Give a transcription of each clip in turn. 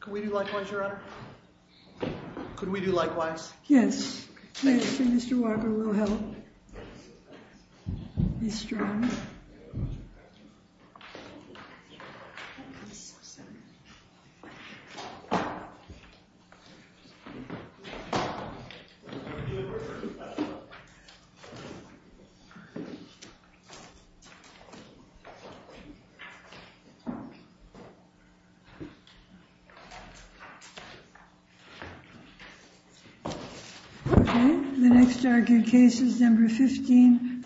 Could we do likewise, Your Honor? Could we do likewise? Yes. Thank you, Mr. Walker. We'll help. Be strong. Okay, the next argued case is No. 15-1498.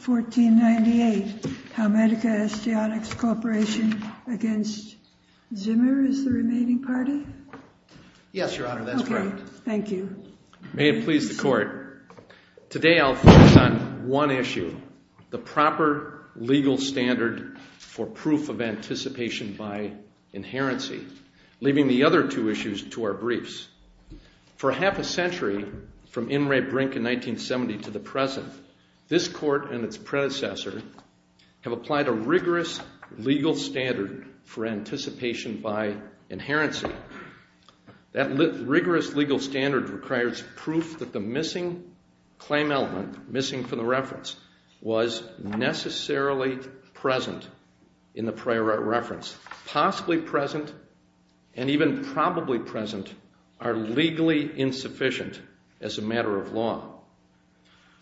Homedica Osteonics Corporation v. Zimmer is the remaining party? Yes, Your Honor, that's correct. Okay, thank you. May it please the Court, Today I'll focus on one issue, the proper legal standard for proof of anticipation by inherency, leaving the other two issues to our briefs. For half a century, from In re Brink in 1970 to the present, this Court and its predecessor have applied a rigorous legal standard for anticipation by inherency. That rigorous legal standard requires proof that the missing claim element, missing from the reference, was necessarily present in the prior reference. Possibly present and even probably present are legally insufficient as a matter of law.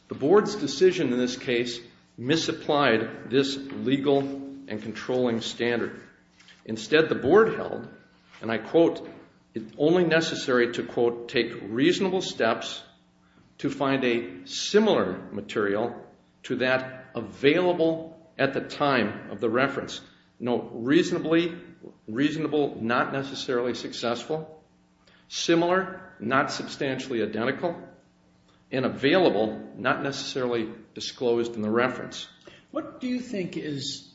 The Board's decision in this case misapplied this legal and controlling standard. Instead, the Board held, and I quote, it's only necessary to, quote, take reasonable steps to find a similar material to that available at the time of the reference. Note, reasonably, reasonable, not necessarily successful, similar, not substantially identical, and available, not necessarily disclosed in the reference. What do you think is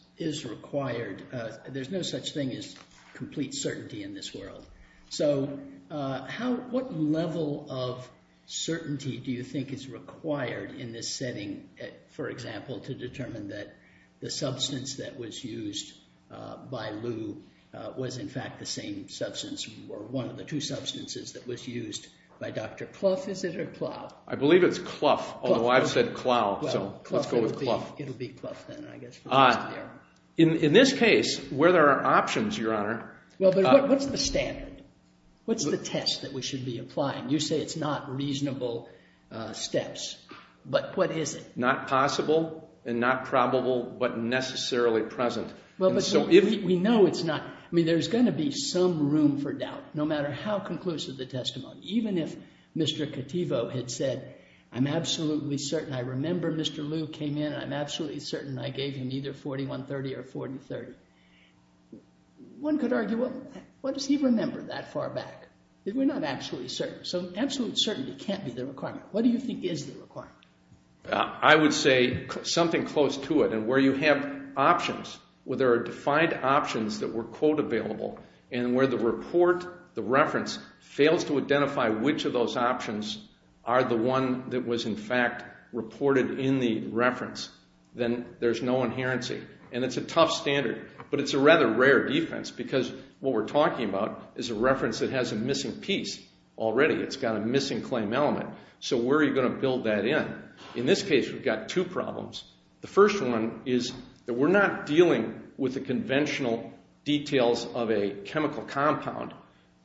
required? There's no such thing as complete certainty in this world. So what level of certainty do you think is required in this setting, for example, to determine that the substance that was used by Lou was in fact the same substance or one of the two substances that was used by Dr. Clough, is it, or Clough? I believe it's Clough, although I've said Clough, so let's go with Clough. It'll be Clough then, I guess. In this case, where there are options, Your Honor. Well, but what's the standard? What's the test that we should be applying? You say it's not reasonable steps, but what is it? Not possible and not probable, but necessarily present. Well, but we know it's not. I mean, there's going to be some room for doubt, no matter how conclusive the testimony, even if Mr. Cattivo had said, I'm absolutely certain I remember Mr. Lou came in, I'm absolutely certain I gave him either 4130 or 4030. One could argue, what does he remember that far back? We're not absolutely certain. So absolute certainty can't be the requirement. What do you think is the requirement? I would say something close to it, and where you have options, where there are defined options that were, quote, are the one that was, in fact, reported in the reference, then there's no inherency. And it's a tough standard, but it's a rather rare defense because what we're talking about is a reference that has a missing piece already. It's got a missing claim element. So where are you going to build that in? In this case, we've got two problems. The first one is that we're not dealing with the conventional details of a chemical compound,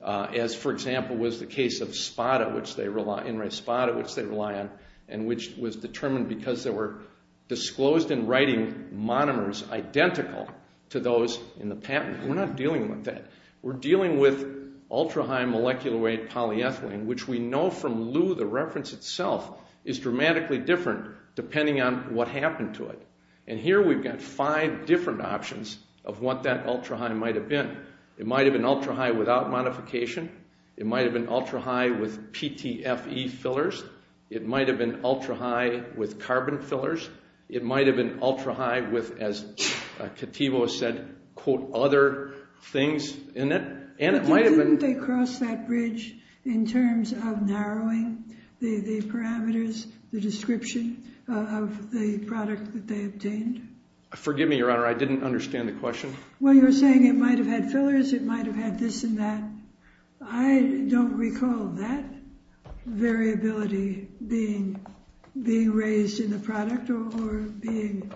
as, for example, was the case of Spada, which they rely on, and which was determined because they were disclosed in writing monomers identical to those in the patent. We're not dealing with that. We're dealing with ultra-high molecular weight polyethylene, which we know from Lou the reference itself is dramatically different depending on what happened to it. And here we've got five different options of what that ultra-high might have been. It might have been ultra-high without modification. It might have been ultra-high with PTFE fillers. It might have been ultra-high with carbon fillers. It might have been ultra-high with, as Kativo said, quote, other things in it. But didn't they cross that bridge in terms of narrowing the parameters, the description of the product that they obtained? Forgive me, Your Honor, I didn't understand the question. Well, you're saying it might have had fillers, it might have had this and that. I don't recall that variability being raised in the product or being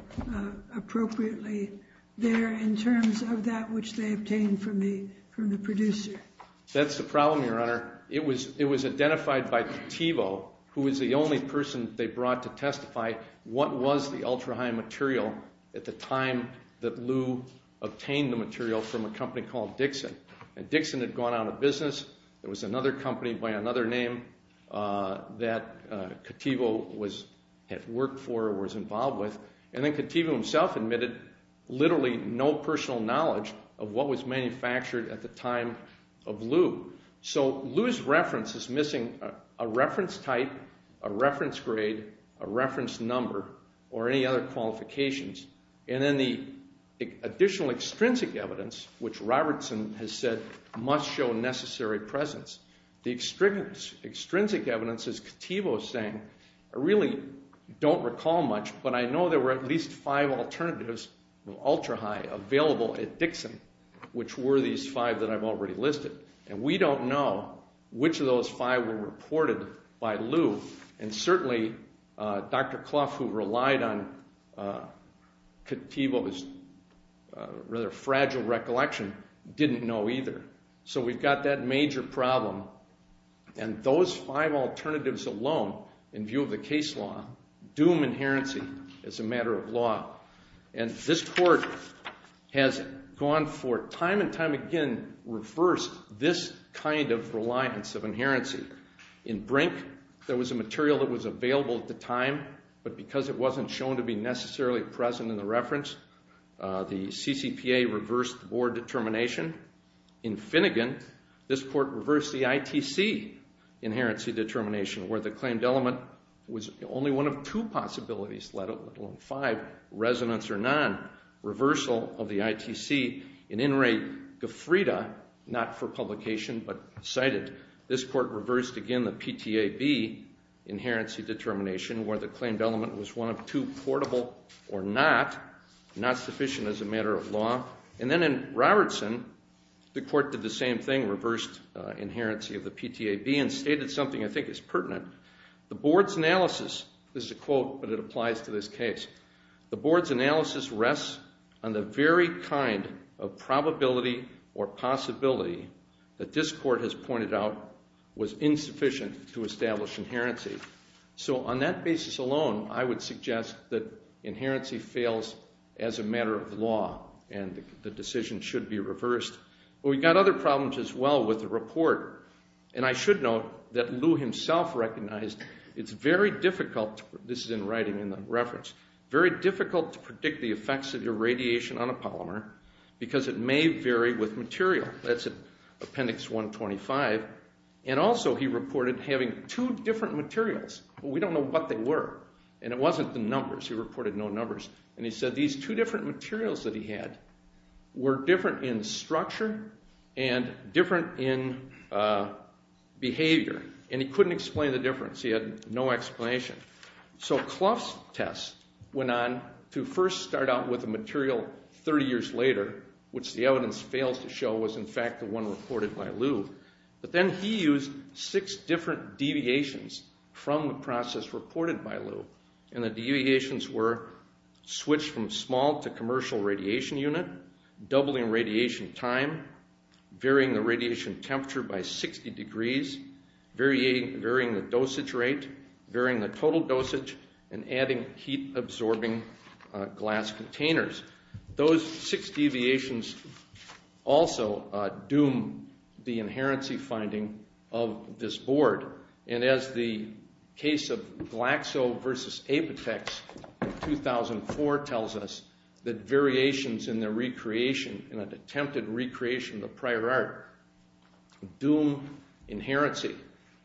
appropriately there in terms of that which they obtained from the producer. That's the problem, Your Honor. It was identified by Kativo, who was the only person they brought to testify what was the ultra-high material at the time that Lew obtained the material from a company called Dixon. Dixon had gone out of business. There was another company by another name that Kativo had worked for or was involved with. And then Kativo himself admitted literally no personal knowledge of what was manufactured at the time of Lew. So Lew's reference is missing a reference type, a reference grade, a reference number, or any other qualifications. And then the additional extrinsic evidence, which Robertson has said must show necessary presence. The extrinsic evidence, as Kativo is saying, I really don't recall much, but I know there were at least five alternatives of ultra-high available at Dixon, which were these five that I've already listed. And we don't know which of those five were reported by Lew. And certainly Dr. Clough, who relied on Kativo's rather fragile recollection, didn't know either. So we've got that major problem. And those five alternatives alone, in view of the case law, doom inherency as a matter of law. And this Court has gone for time and time again, reversed this kind of reliance of inherency. In Brink, there was a material that was available at the time, but because it wasn't shown to be necessarily present in the reference, the CCPA reversed the board determination. In Finnegan, this Court reversed the ITC inherency determination, where the claimed element was only one of two possibilities, let alone five, resonance or non, reversal of the ITC. In Inouye-Gifrida, not for publication but cited, this Court reversed again the PTAB inherency determination, where the claimed element was one of two portable or not, not sufficient as a matter of law. And then in Robertson, the Court did the same thing, reversed inherency of the PTAB and stated something I think is pertinent. The board's analysis, this is a quote but it applies to this case, the board's analysis rests on the very kind of probability or possibility that this Court has pointed out was insufficient to establish inherency. So on that basis alone, I would suggest that inherency fails as a matter of law and the decision should be reversed. But we've got other problems as well with the report, and I should note that Lew himself recognized it's very difficult, this is in writing in the reference, because it may vary with material. That's Appendix 125. And also he reported having two different materials. We don't know what they were, and it wasn't the numbers. He reported no numbers. And he said these two different materials that he had were different in structure and different in behavior, and he couldn't explain the difference. He had no explanation. So Clough's test went on to first start out with a material 30 years later, which the evidence fails to show was in fact the one reported by Lew. But then he used six different deviations from the process reported by Lew, and the deviations were switch from small to commercial radiation unit, doubling radiation time, varying the radiation temperature by 60 degrees, varying the dosage rate, varying the total dosage, and adding heat-absorbing glass containers. Those six deviations also doom the inherency finding of this board. And as the case of Glaxo versus Apotex in 2004 tells us, that variations in the recreation, in an attempted recreation of prior art, doom inherency.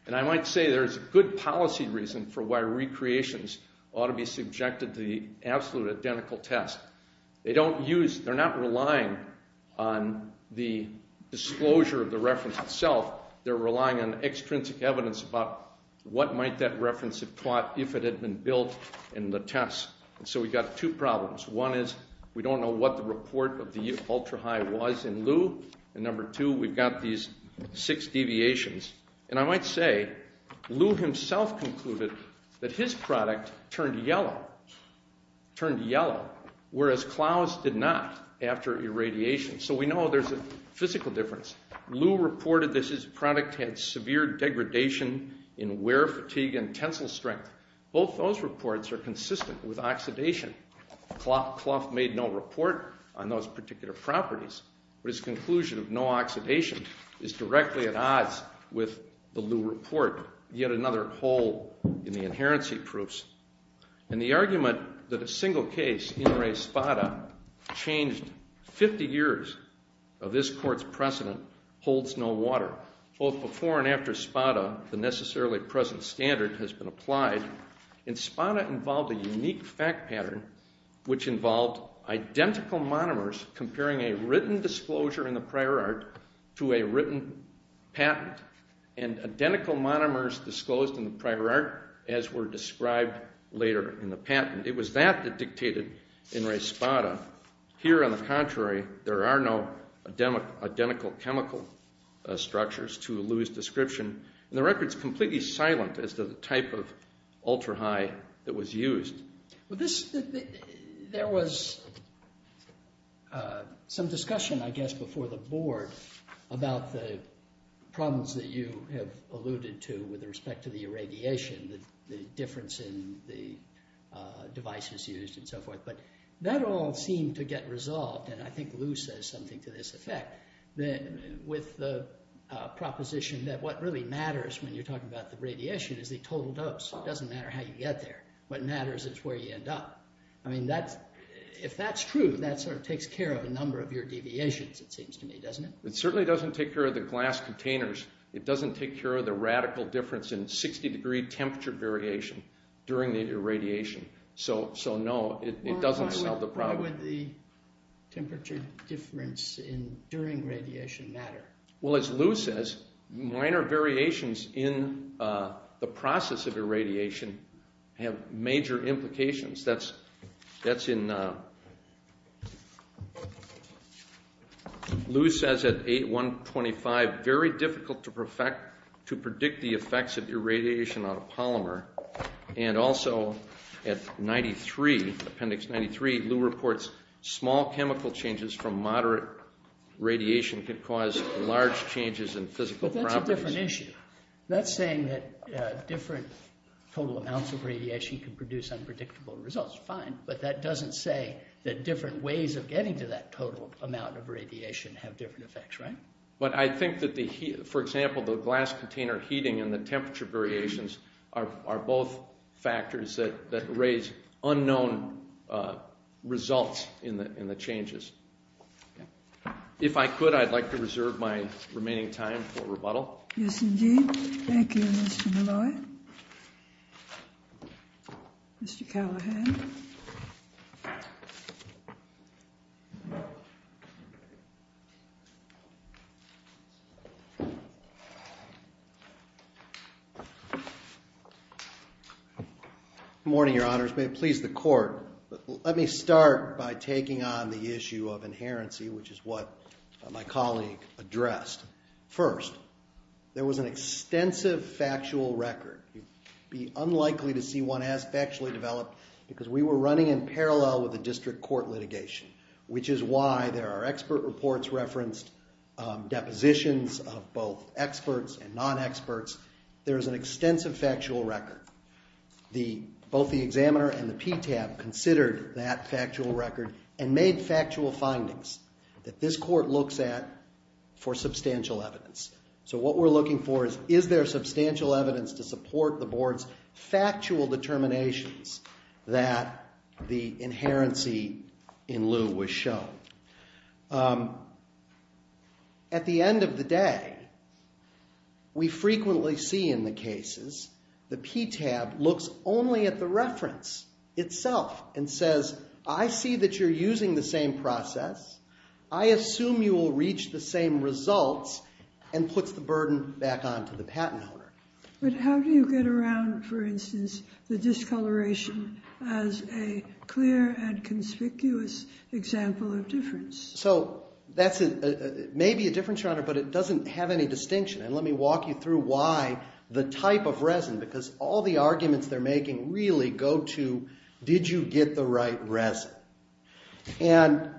And I might say there's good policy reason for why recreations ought to be subjected to the absolute identical test. They're not relying on the disclosure of the reference itself. They're relying on extrinsic evidence about what might that reference have taught if it had been built in the test. So we've got two problems. One is we don't know what the report of the ultra-high was in Lew. And number two, we've got these six deviations. And I might say Lew himself concluded that his product turned yellow, whereas Klaus did not after irradiation. So we know there's a physical difference. Lew reported that his product had severe degradation in wear fatigue and tensile strength. Both those reports are consistent with oxidation. Klaus made no report on those particular properties. But his conclusion of no oxidation is directly at odds with the Lew report, yet another hole in the inherency proofs. And the argument that a single case in re spada changed 50 years of this court's precedent holds no water. Both before and after spada, the necessarily present standard has been applied. And spada involved a unique fact pattern which involved identical monomers comparing a written disclosure in the prior art to a written patent and identical monomers disclosed in the prior art as were described later in the patent. It was that that dictated in re spada. Here, on the contrary, there are no identical chemical structures to Lew's description. And the record's completely silent as to the type of ultra-high that was used. There was some discussion, I guess, before the board about the problems that you have alluded to with respect to the irradiation, the difference in the devices used and so forth. But that all seemed to get resolved, and I think Lew says something to this effect, with the proposition that what really matters when you're talking about the radiation is the total dose. It doesn't matter how you get there. What matters is where you end up. I mean, if that's true, that sort of takes care of a number of your deviations, it seems to me, doesn't it? It certainly doesn't take care of the glass containers. It doesn't take care of the radical difference in 60-degree temperature variation during the irradiation. So no, it doesn't solve the problem. Why would the temperature difference during radiation matter? Well, as Lew says, minor variations in the process of irradiation have major implications. That's in Lew says at 8.125, very difficult to predict the effects of irradiation on a polymer. And also at 93, appendix 93, Lew reports small chemical changes from moderate radiation can cause large changes in physical properties. But that's a different issue. That's saying that different total amounts of radiation can produce unpredictable results. Fine. But that doesn't say that different ways of getting to that total amount of radiation have different effects, right? But I think that, for example, the glass container heating and the temperature variations are both factors that raise unknown results in the changes. If I could, I'd like to reserve my remaining time for rebuttal. Yes, indeed. Thank you, Mr. Malloy. Mr. Callahan. Good morning, Your Honors. May it please the Court, let me start by taking on the issue of inherency, which is what my colleague addressed. First, there was an extensive factual record. It would be unlikely to see one as factually developed because we were running in parallel with the district court litigation, which is why there are expert reports referenced, depositions of both experts and non-experts. There is an extensive factual record. Both the examiner and the PTAB considered that factual record and made factual findings that this court looks at for substantial evidence. So what we're looking for is, is there substantial evidence to support the Board's factual determinations that the inherency in lieu was shown? At the end of the day, we frequently see in the cases, the PTAB looks only at the reference itself and says, I see that you're using the same process. I assume you will reach the same results, and puts the burden back on to the patent owner. But how do you get around, for instance, the discoloration as a clear and conspicuous example of difference? So that's maybe a different genre, but it doesn't have any distinction. And let me walk you through why the type of resin, because all the arguments they're making really go to, did you get the right resin? And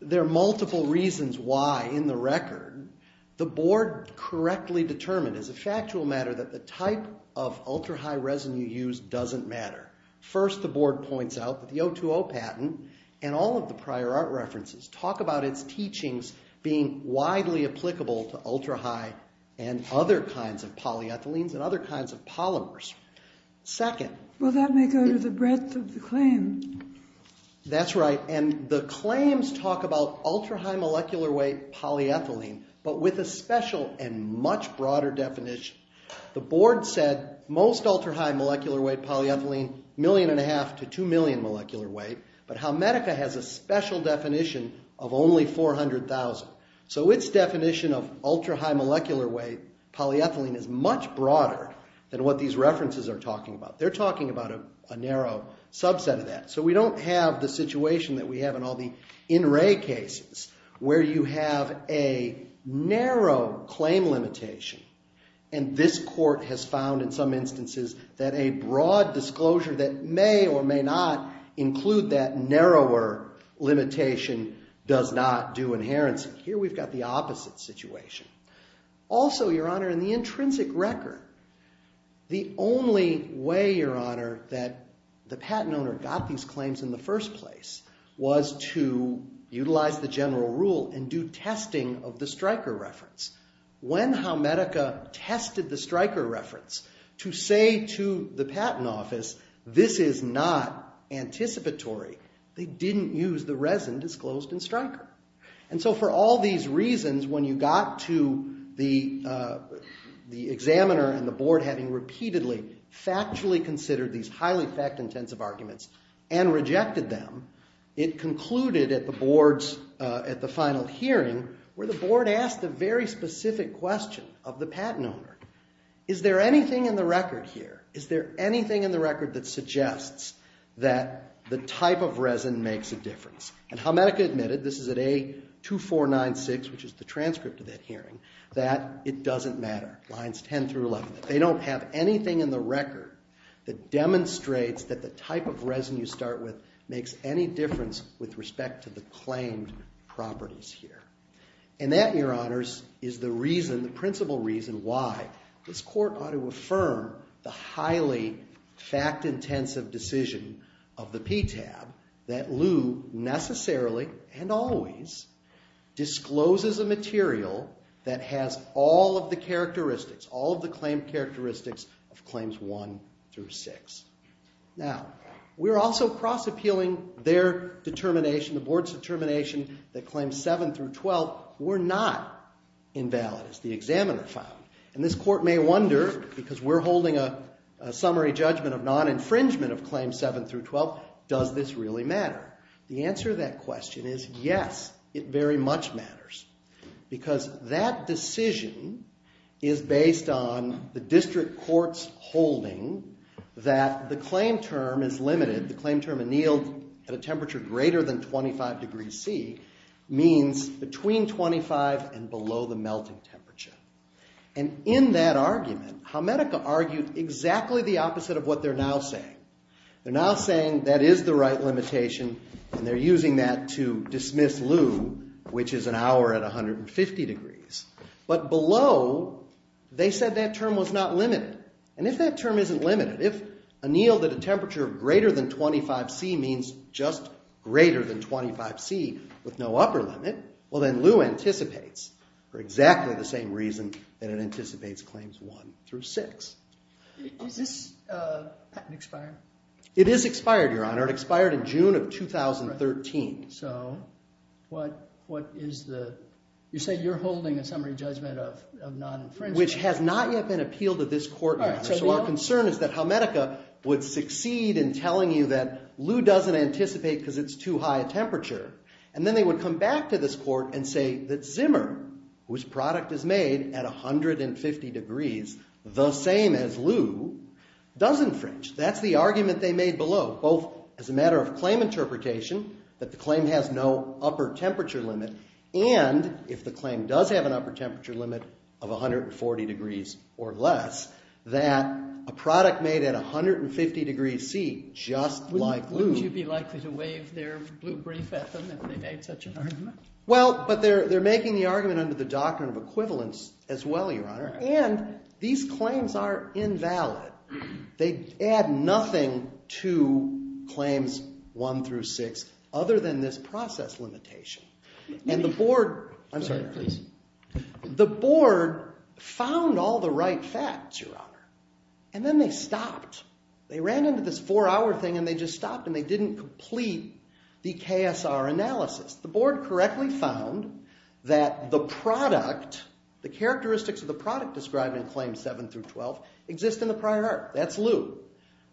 there are multiple reasons why in the record. The Board correctly determined as a factual matter that the type of ultra-high resin you use doesn't matter. First, the Board points out that the 020 patent and all of the prior art references talk about its teachings being widely applicable to ultra-high and other kinds of polyethylenes and other kinds of polymers. Second... Well, that may go to the breadth of the claim. That's right. And the claims talk about ultra-high molecular weight polyethylene, but with a special and much broader definition. The Board said most ultra-high molecular weight polyethylene, a million and a half to two million molecular weight, but Halmetica has a special definition of only 400,000. So its definition of ultra-high molecular weight polyethylene is much broader than what these references are talking about. They're talking about a narrow subset of that. So we don't have the situation that we have in all the in-ray cases where you have a narrow claim limitation, and this court has found in some instances that a broad disclosure that may or may not include that narrower limitation does not do inherency. Here we've got the opposite situation. Also, Your Honor, in the intrinsic record, the only way, Your Honor, that the patent owner got these claims in the first place was to utilize the general rule and do testing of the Stryker reference. When Halmetica tested the Stryker reference to say to the Patent Office, this is not anticipatory, they didn't use the resin disclosed in Stryker. And so for all these reasons, when you got to the examiner and the board having repeatedly factually considered these highly fact-intensive arguments and rejected them, it concluded at the board's final hearing where the board asked a very specific question of the patent owner. Is there anything in the record here, is there anything in the record that suggests that the type of resin makes a difference? And Halmetica admitted, this is at A2496, which is the transcript of that hearing, that it doesn't matter, lines 10 through 11, that they don't have anything in the record that demonstrates that the type of resin you start with makes any difference with respect to the claimed properties here. And that, Your Honors, is the reason, the principal reason, why this court ought to affirm the highly fact-intensive decision of the PTAB that Lew necessarily and always discloses a material that has all of the characteristics, all of the claimed characteristics of Claims 1 through 6. Now, we're also cross-appealing their determination, the board's determination that Claims 7 through 12 were not invalid, as the examiner found. And this court may wonder, because we're holding a summary judgment of non-infringement of Claims 7 through 12, does this really matter? The answer to that question is, yes, it very much matters. Because that decision is based on the district court's holding that the claim term is limited, the claim term annealed at a temperature greater than 25 degrees C means between 25 and below the melting temperature. And in that argument, Helmetica argued exactly the opposite of what they're now saying. They're now saying that is the right limitation, and they're using that to dismiss Lew, which is an hour at 150 degrees. But below, they said that term was not limited. And if that term isn't limited, if annealed at a temperature greater than 25 C means just greater than 25 C with no upper limit, well, then Lew anticipates for exactly the same reason that it anticipates Claims 1 through 6. Is this patent expired? It is expired, Your Honor. It expired in June of 2013. So what is the... You said you're holding a summary judgment of non-infringement. Which has not yet been appealed at this court, Your Honor. So our concern is that Helmetica would succeed in telling you that Lew doesn't anticipate because it's too high a temperature. And then they would come back to this court and say that Zimmer, whose product is made at 150 degrees, the same as Lew, does infringe. That's the argument they made below, both as a matter of claim interpretation, that the claim has no upper temperature limit, and if the claim does have an upper temperature limit of 140 degrees or less, that a product made at 150 degrees C, just like Lew... Wouldn't you be likely to wave their blue brief at them if they made such an argument? Well, but they're making the argument under the doctrine of equivalence as well, Your Honor. And these claims are invalid. They add nothing to claims 1 through 6 other than this process limitation. And the board... I'm sorry, please. The board found all the right facts, Your Honor. And then they stopped. They ran into this four-hour thing and they just stopped and they didn't complete the KSR analysis. The board correctly found that the product, the characteristics of the product described in claims 7 through 12, exist in the prior art. That's Lew.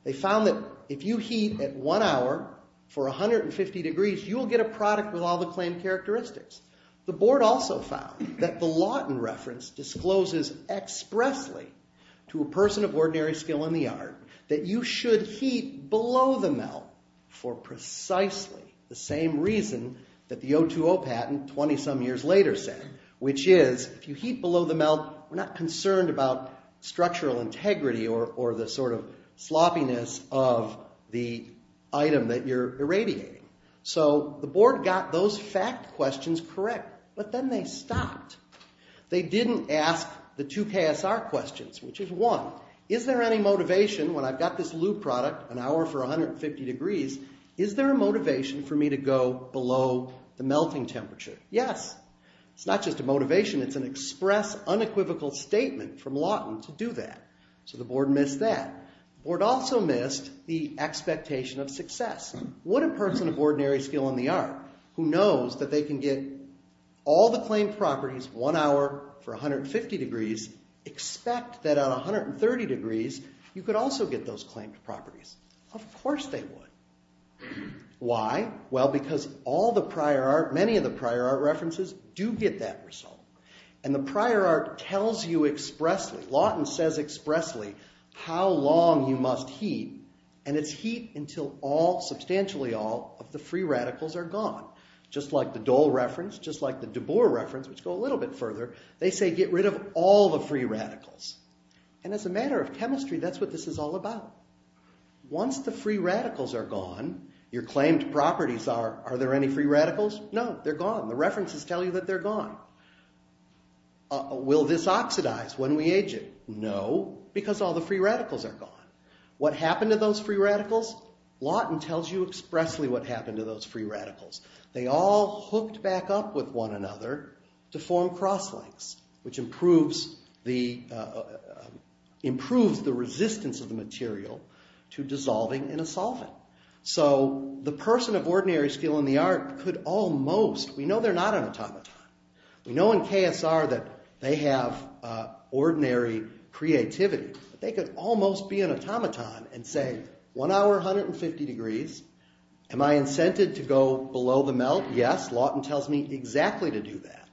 They found that if you heat at one hour for 150 degrees, you'll get a product with all the claimed characteristics. The board also found that the Lawton reference discloses expressly to a person of ordinary skill in the art that you should heat below the melt for precisely the same reason that the 020 patent 20-some years later said, which is if you heat below the melt, we're not concerned about structural integrity or the sort of sloppiness of the item that you're irradiating. So the board got those fact questions correct. But then they stopped. They didn't ask the two KSR questions, which is one, is there any motivation when I've got this Lew product an hour for 150 degrees, is there a motivation for me to go below the melting temperature? Yes. It's not just a motivation. It's an express, unequivocal statement from Lawton to do that. So the board missed that. The board also missed the expectation of success. What a person of ordinary skill in the art who knows that they can get all the claimed properties one hour for 150 degrees, expect that at 130 degrees, you could also get those claimed properties. Of course they would. Why? Well, because all the prior art, many of the prior art references do get that result. And the prior art tells you expressly, Lawton says expressly, how long you must heat, and it's heat until all, substantially all, of the free radicals are gone. Just like the Dole reference, just like the de Boer reference, which go a little bit further, they say get rid of all the free radicals. And as a matter of chemistry, that's what this is all about. Once the free radicals are gone, your claimed properties are, are there any free radicals? No, they're gone. The references tell you that they're gone. Will this oxidize when we age it? No, because all the free radicals are gone. What happened to those free radicals? Lawton tells you expressly what happened to those free radicals. They all hooked back up with one another to form cross-links, which improves the, improves the resistance of the material to dissolving in a solvent. So the person of ordinary skill in the art could almost, we know they're not an automaton, we know in KSR that they have ordinary creativity, but they could almost be an automaton and say one hour, 150 degrees, am I incented to go below the melt? Yes, Lawton tells me exactly to do that.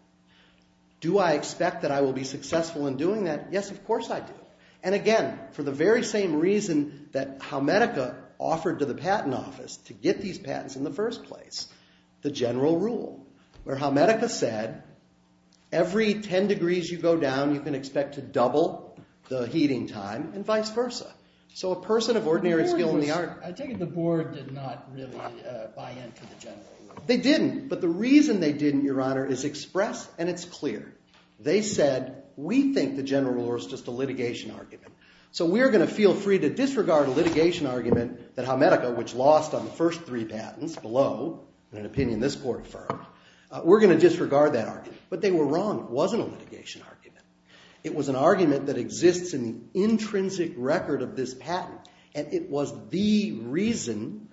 Do I expect that I will be successful in doing that? Yes, of course I do. And again, for the very same reason that HowMedica offered to the patent office to get these patents in the first place, the general rule, where HowMedica said every 10 degrees you go down you can expect to double the heating time and vice versa. So a person of ordinary skill in the art... I take it the board did not really buy into the general rule. They didn't, but the reason they didn't, Your Honor, is express and it's clear. They said, we think the general rule is just a litigation argument. So we're going to feel free to disregard a litigation argument that HowMedica, which lost on the first three patents below, in an opinion this court affirmed, we're going to disregard that argument. But they were wrong, it wasn't a litigation argument. It was an argument that exists in the intrinsic record of this patent. And it was the reason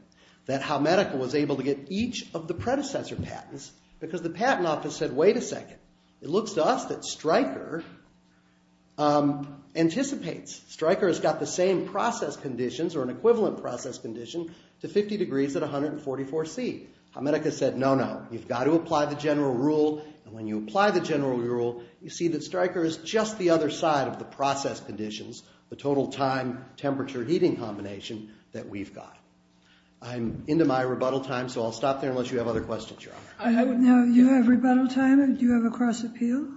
that HowMedica was able to get each of the predecessor patents because the patent office said, wait a second. It looks to us that Stryker anticipates. Stryker has got the same process conditions or an equivalent process condition to 50 degrees at 144 C. HowMedica said, no, no. You've got to apply the general rule and when you apply the general rule you see that Stryker is just the other side of the process conditions, the total time, temperature, heating combination that we've got. I'm into my rebuttal time, so I'll stop there unless you have other questions, Your Honor. Now, you have rebuttal time? Do you have a cross appeal?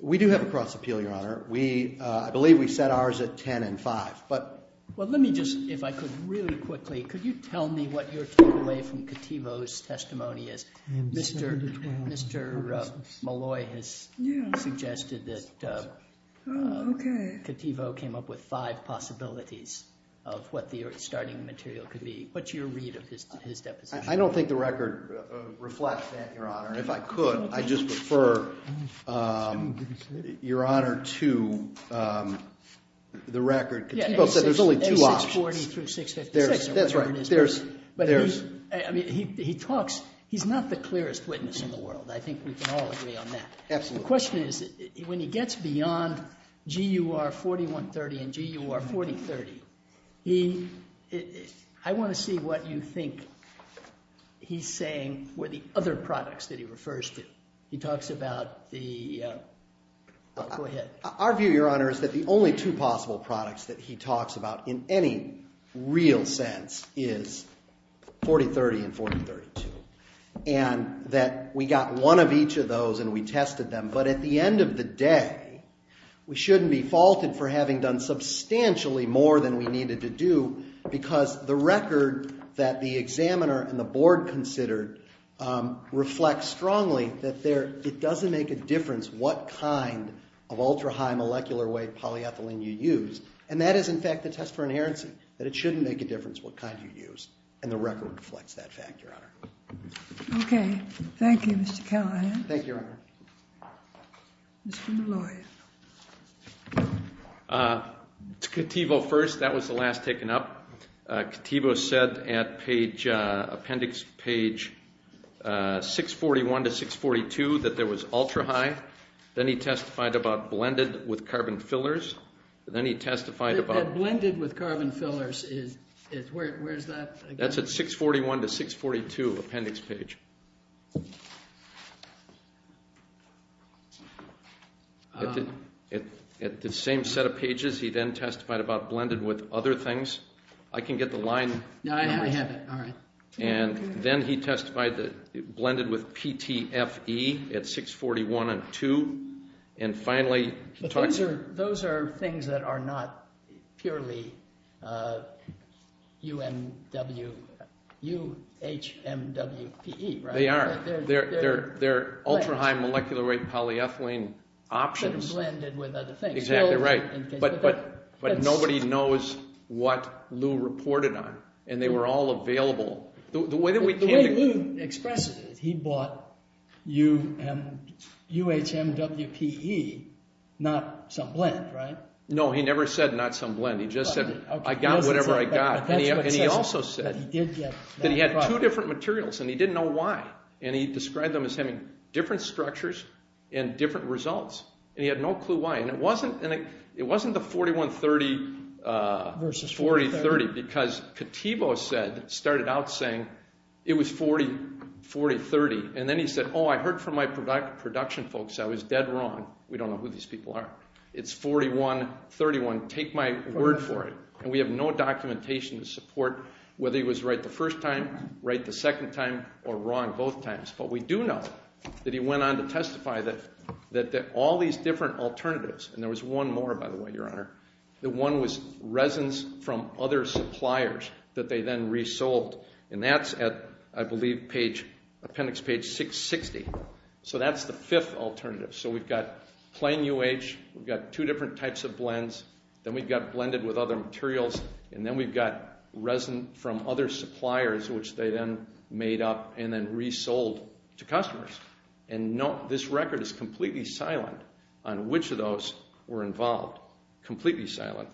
We do have a cross appeal, Your Honor. I believe we set ours at 10 and 5. Well, let me just, if I could, really quickly, could you tell me what your takeaway from Cattivo's testimony is? Mr. Malloy has suggested that Cattivo came up with five possibilities of what the starting material could be. What's your read of his deposition? I don't think the record reflects that, Your Honor. If I could, I'd just refer, Your Honor, to the record. Cattivo said there's only two options. There's 640 through 656. That's right. He talks, he's not the clearest witness in the world. I think we can all agree on that. The question is, when he gets beyond GUR 4130 and GUR 4030, I want to see what you think he's saying with the other products that he refers to. He talks about the, go ahead. Our view, Your Honor, is that the only two possible products that he talks about in any real sense is 4030 and 4032. And that we got one of each of those and we tested them, but at the end of the day, we shouldn't be faulted for having done substantially more than we needed to do because the record that the examiner and the board considered reflects strongly that there, it doesn't make a difference what kind of ultra-high molecular weight polyethylene you use. And that is, in fact, the test for inherency, that it shouldn't make a difference what kind you use. And the record reflects that fact, Your Honor. Okay. Thank you, Mr. Callahan. Thank you, Your Honor. Mr. Molloy. To Cotevo first. That was the last taken up. Cotevo said at appendix page 641 to 642 that there was ultra-high. Then he testified about blended with carbon fillers. Then he testified about... That blended with carbon fillers, where is that? That's at 641 to 642, appendix page. At the same set of pages, he then testified about blended with other things. I can get the line. I have it. All right. And then he testified that blended with PTFE at 641 and 2. And finally... Those are things that are not purely UMW... UHMWPE. They are. They're ultra-high molecular weight polyethylene options. But blended with other things. Exactly right. But nobody knows what Lew reported on. And they were all available. The way Lew expressed it, he bought UHMWPE, not some blend, right? No, he never said not some blend. He just said, I got whatever I got. And he also said that he had two different materials and he didn't know why. And he described them as having different structures and different results. And he had no clue why. And it wasn't the 4130 versus 4030, because Kativo started out saying it was 4030. And then he said, oh, I heard from my production folks. I was dead wrong. We don't know who these people are. It's 4131. Take my word for it. And we have no documentation to support whether he was right the first time, right the second time, or wrong both times. But we do know that he went on to testify that all these different alternatives, and there was one more, by the way, Your Honor, the one was resins from other suppliers that they then resold. And that's at, I believe, appendix page 660. So that's the fifth alternative. So we've got plain UH. We've got two different types of blends. Then we've got blended with other materials. And then we've got resin from other suppliers, which they then made up and then resold to customers. And this record is completely silent on which of those were involved. Completely silent.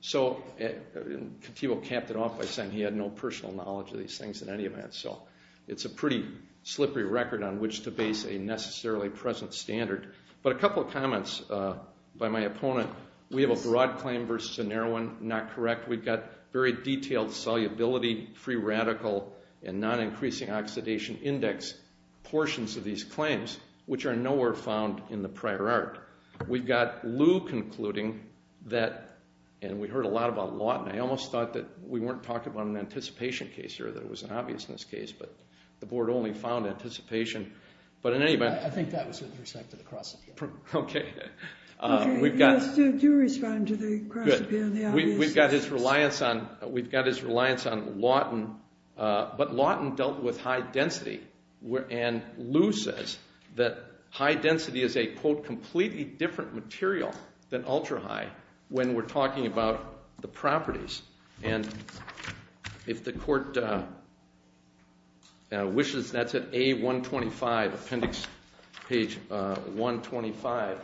So Kativo capped it off by saying he had no personal knowledge of these things in any event. So it's a pretty slippery record on which to base a necessarily present standard. But a couple of comments by my opponent. We have a broad claim versus a narrow one. Not correct. We've got very detailed solubility, free radical, and non-increasing oxidation index portions of these claims, which are nowhere found in the prior art. We've got Lew concluding that, and we heard a lot about Lawton. I almost thought that we weren't talking about an anticipation case here, that it was an obviousness case, but the board only found anticipation. But in any event... I think that was with respect to the cross-appeal. Okay. Okay, do respond to the cross-appeal, the obviousness. We've got his reliance on Lawton, but Lawton dealt with high density, and Lew says that high density is a, quote, completely different material than ultra-high when we're talking about the properties. And if the court wishes, that's at A125, appendix page 125.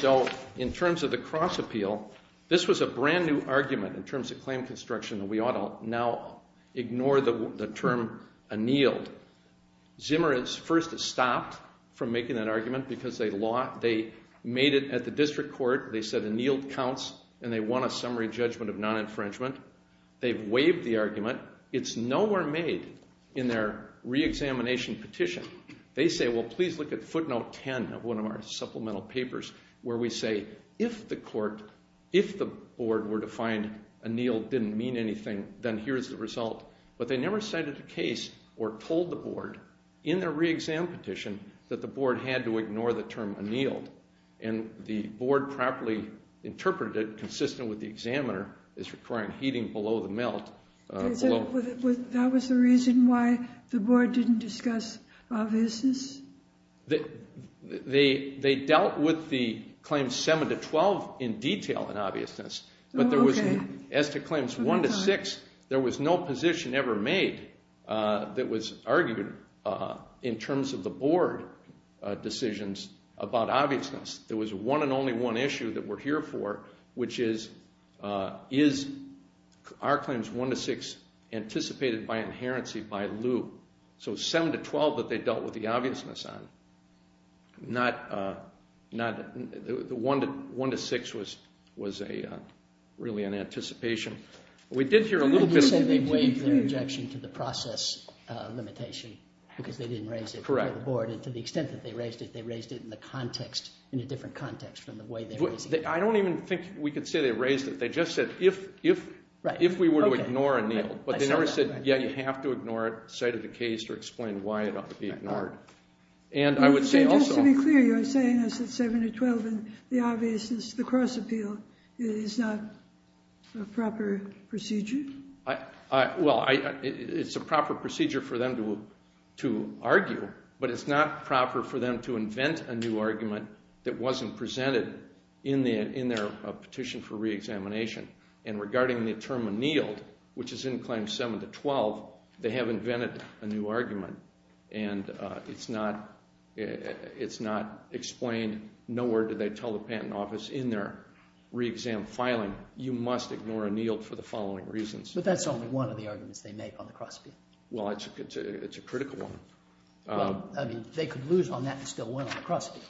So in terms of the cross-appeal, this was a brand-new argument in terms of claim construction that we ought to now ignore the term annealed. Zimmer has first stopped from making that argument because they made it at the district court. They said annealed counts, and they won a summary judgment of non-infringement. They've waived the argument. It's nowhere made in their re-examination petition. They say, well, please look at footnote 10 of one of our supplemental papers where we say if the board were to find annealed didn't mean anything, then here's the result. But they never cited a case or told the board in their re-exam petition that the board had to ignore the term annealed. And the board properly interpreted it, consistent with the examiner, as requiring heating below the melt. That was the reason why the board didn't discuss obviousness? They dealt with the claims 7 to 12 in detail in obviousness. But as to claims 1 to 6, there was no position ever made that was argued in terms of the board decisions about obviousness. There was one and only one issue that we're here for, which is, is our claims 1 to 6 anticipated by inherency by lieu? So 7 to 12 that they dealt with the obviousness on, 1 to 6 was really an anticipation. We did hear a little bit... They said they waived their objection to the process limitation because they didn't raise it for the board. And to the extent that they raised it, they raised it in a different context from the way they raised it. I don't even think we could say they raised it. They just said, if we were to ignore a kneel. But they never said, yeah, you have to ignore it, cite it in the case or explain why it ought to be ignored. And I would say also... So just to be clear, you're saying it's 7 to 12 and the obviousness, the cross appeal, is not a proper procedure? Well, it's a proper procedure for them to argue, but it's not proper for them to invent a new argument that wasn't presented in their petition for reexamination. And regarding the term annealed, which is in Claim 7 to 12, they have invented a new argument. And it's not explained. No word did they tell the patent office in their reexam filing, you must ignore annealed for the following reasons. But that's only one of the arguments they make on the cross appeal. Well, it's a critical one. I mean, they could lose on that and still win on the cross appeal,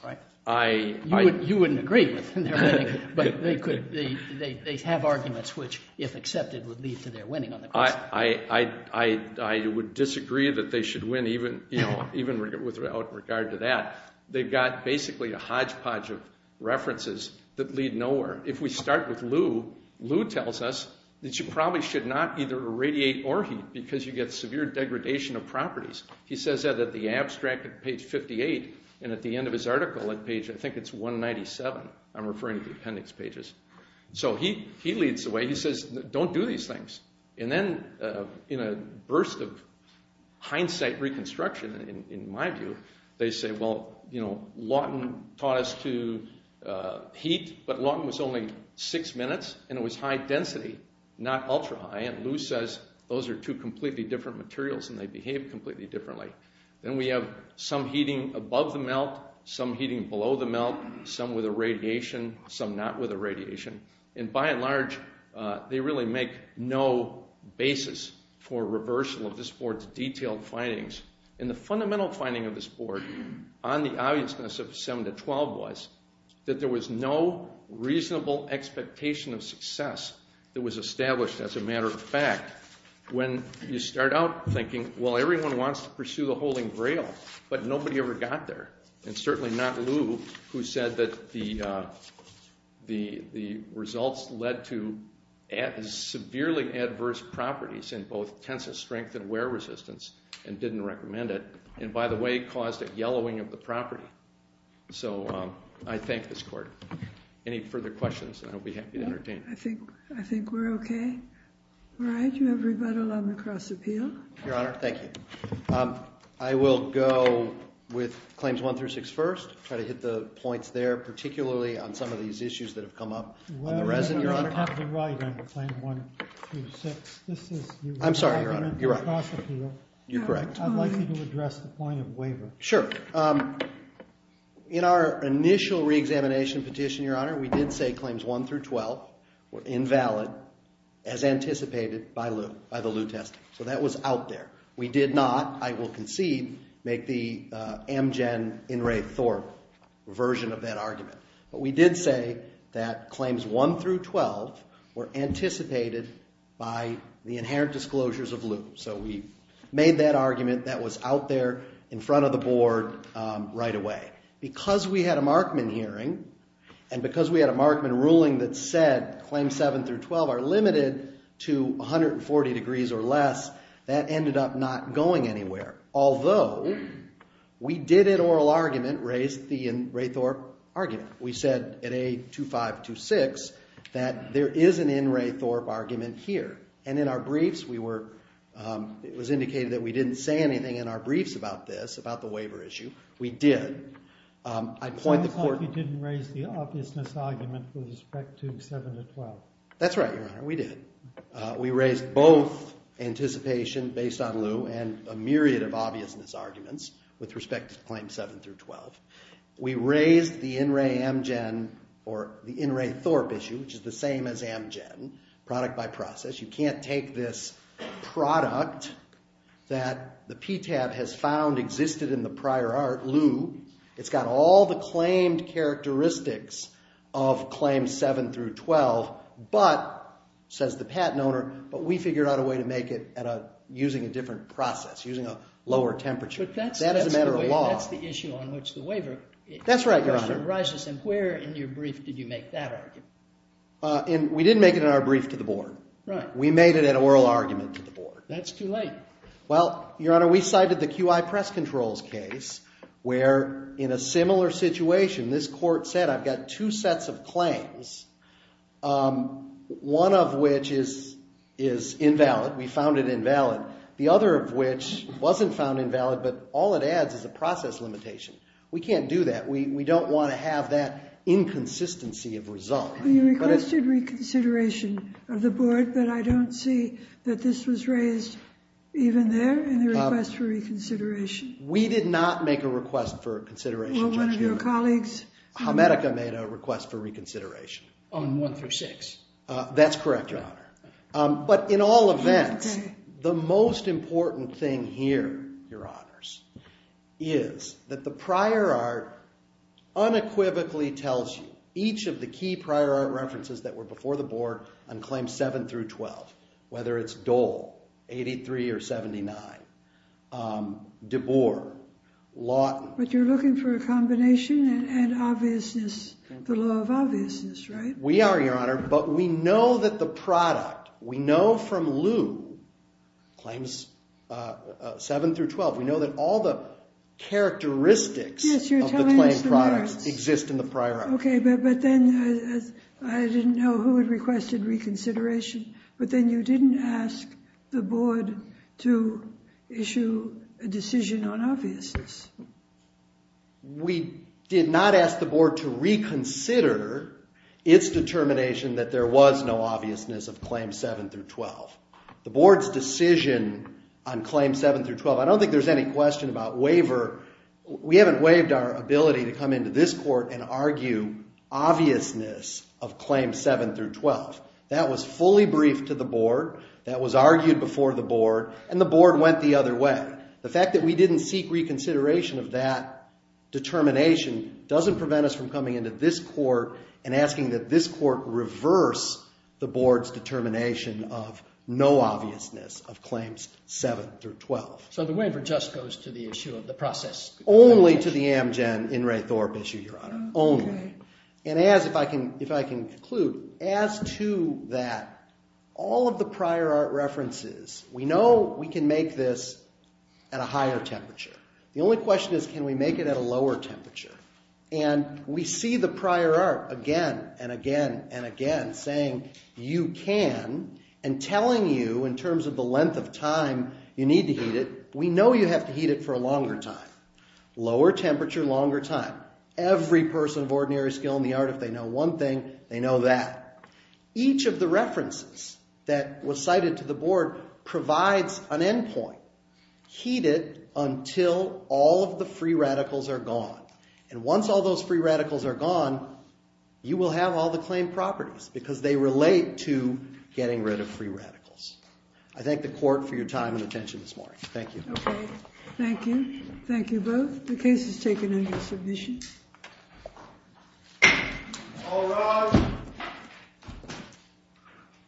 right? You wouldn't agree with them. But they have arguments which, if accepted, would lead to their winning on the cross appeal. I would disagree that they should win, even with regard to that. They've got basically a hodgepodge of references that lead nowhere. If we start with Lew, Lew tells us that you probably should not either irradiate or heat because you get severe degradation of properties. He says that at the abstract at page 58 and at the end of his article at page, I think it's 197, I'm referring to the appendix pages. So he leads the way. He says, don't do these things. And then in a burst of hindsight reconstruction, in my view, they say, well, you know, Lawton taught us to heat, but Lawton was only six minutes and it was high density, not ultra high. And Lew says, those are two completely different materials and they behave completely differently. Then we have some heating above the melt, some heating below the melt, some with irradiation, some not with irradiation. And by and large, they really make no basis for reversal of this board's detailed findings. And the fundamental finding of this board on the obviousness of 7 to 12 was that there was no reasonable expectation of success that was established as a matter of fact. When you start out thinking, well, everyone wants to pursue the Holy Grail, but nobody ever got there. And certainly not Lew, who said that the results led to severely adverse properties in both tensile strength and wear resistance and didn't recommend it. And by the way, caused a yellowing of the property. So I thank this court. Any further questions, I'll be happy to entertain. I think we're okay. All right, Your Honor, thank you. I will go with claims 1 through 6 first, try to hit the points there, particularly on some of these issues that have come up on the resin, Your Honor. I'm sorry, Your Honor. You're correct. I'd like you to address the point of waiver. Sure. In our initial reexamination petition, Your Honor, we did say claims 1 through 12 were invalid as anticipated by Lew, by the Lew testing. So that was out there. We did not, I will concede, make the Amgen, In re Thorp version of that argument. But we did say that claims 1 through 12 were anticipated by the inherent disclosures of Lew. So we made that argument that was out there in front of the board right away. Because we had a Markman hearing and because we had a Markman ruling that said claims 7 through 12 are limited to 140 degrees or less, that ended up not going anywhere. Although we did in oral argument raise the in re Thorp argument. We said at A2526 that there is an in re Thorp argument here. And in our briefs, we were, it was indicated that we didn't say anything in our briefs about this, about the waiver issue. We did. I point the court. It sounds like you didn't raise the obviousness argument with respect to 7 through 12. That's right, Your Honor. We did. We raised both anticipation based on Lew and a myriad of obviousness arguments with respect to claims 7 through 12. We raised the in re Amgen or the in re Thorp issue, which is the same as Amgen, product by process. You can't take this product that the PTAB has found existed in the prior art Lew. It's got all the claimed characteristics of claim 7 through 12, but says the patent owner, but we figured out a way to make it at a using a different process, using a lower temperature. That is a matter of law. That's the issue on which the waiver. That's right, Your Honor. Where in your brief did you make that argument? And we didn't make it in our brief to the board. Right. We made it an oral argument to the board. That's too late. Well, Your Honor, we cited the QI press controls case where in a similar situation, this court said, I've got two sets of claims. One of which is, is invalid. We found it invalid. The other of which wasn't found invalid, but all it adds is a process limitation. We can't do that. We don't want to have that inconsistency of result. You requested reconsideration of the board, but I don't see that this was raised even there in the request for reconsideration. We did not make a request for consideration. Well, one of your colleagues... Hamedica made a request for reconsideration. On 1 through 6. That's correct, Your Honor. But in all events, the most important thing here, Your Honors, is that the prior art unequivocally tells you each of the key prior art references that were before the board on claims 7 through 12, whether it's Dole, 83 or 79, DeBoer, Lawton... But you're looking for a combination and obviousness, the Law of Obviousness, right? We are, Your Honor, but we know that the product, we know from Lew, claims 7 through 12, we know that all the characteristics of the claimed products exist in the prior art. Okay, but then, I didn't know who had requested reconsideration, but then you didn't ask the board to issue a decision on obviousness. We did not ask the board to reconsider its determination that there was no obviousness of claims 7 through 12. The board's decision on claims 7 through 12, I don't think there's any question about waiver. We haven't waived our ability to come into this court and argue obviousness of claims 7 through 12. That was fully briefed to the board. That was argued before the board, and the board went the other way. The fact that we didn't seek reconsideration of that determination doesn't prevent us from coming into this court and asking that this court reverse the board's determination of no obviousness of claims 7 through 12. So the waiver just goes to the issue of the process. Only to the Amgen-Inre Thorpe issue, Your Honor. Only. And as, if I can conclude, as to that, all of the prior art references, we know we can make this at a higher temperature. The only question is can we make it at a lower temperature? And we see the prior art again and again and again saying you can, and telling you in terms of the length of time you need to heat it, we know you have to heat it for a longer time. Lower temperature, longer time. Every person of ordinary skill in the art, if they know one thing, they know that. Each of the references that was cited to the board provides an end point. Heat it until all of the free radicals are gone. And once all those free radicals are gone, you will have all the claim properties because they relate to getting rid of free radicals. I thank the court for your time and attention this morning. Thank you. Thank you. Thank you both. The case is taken under submission. All rise.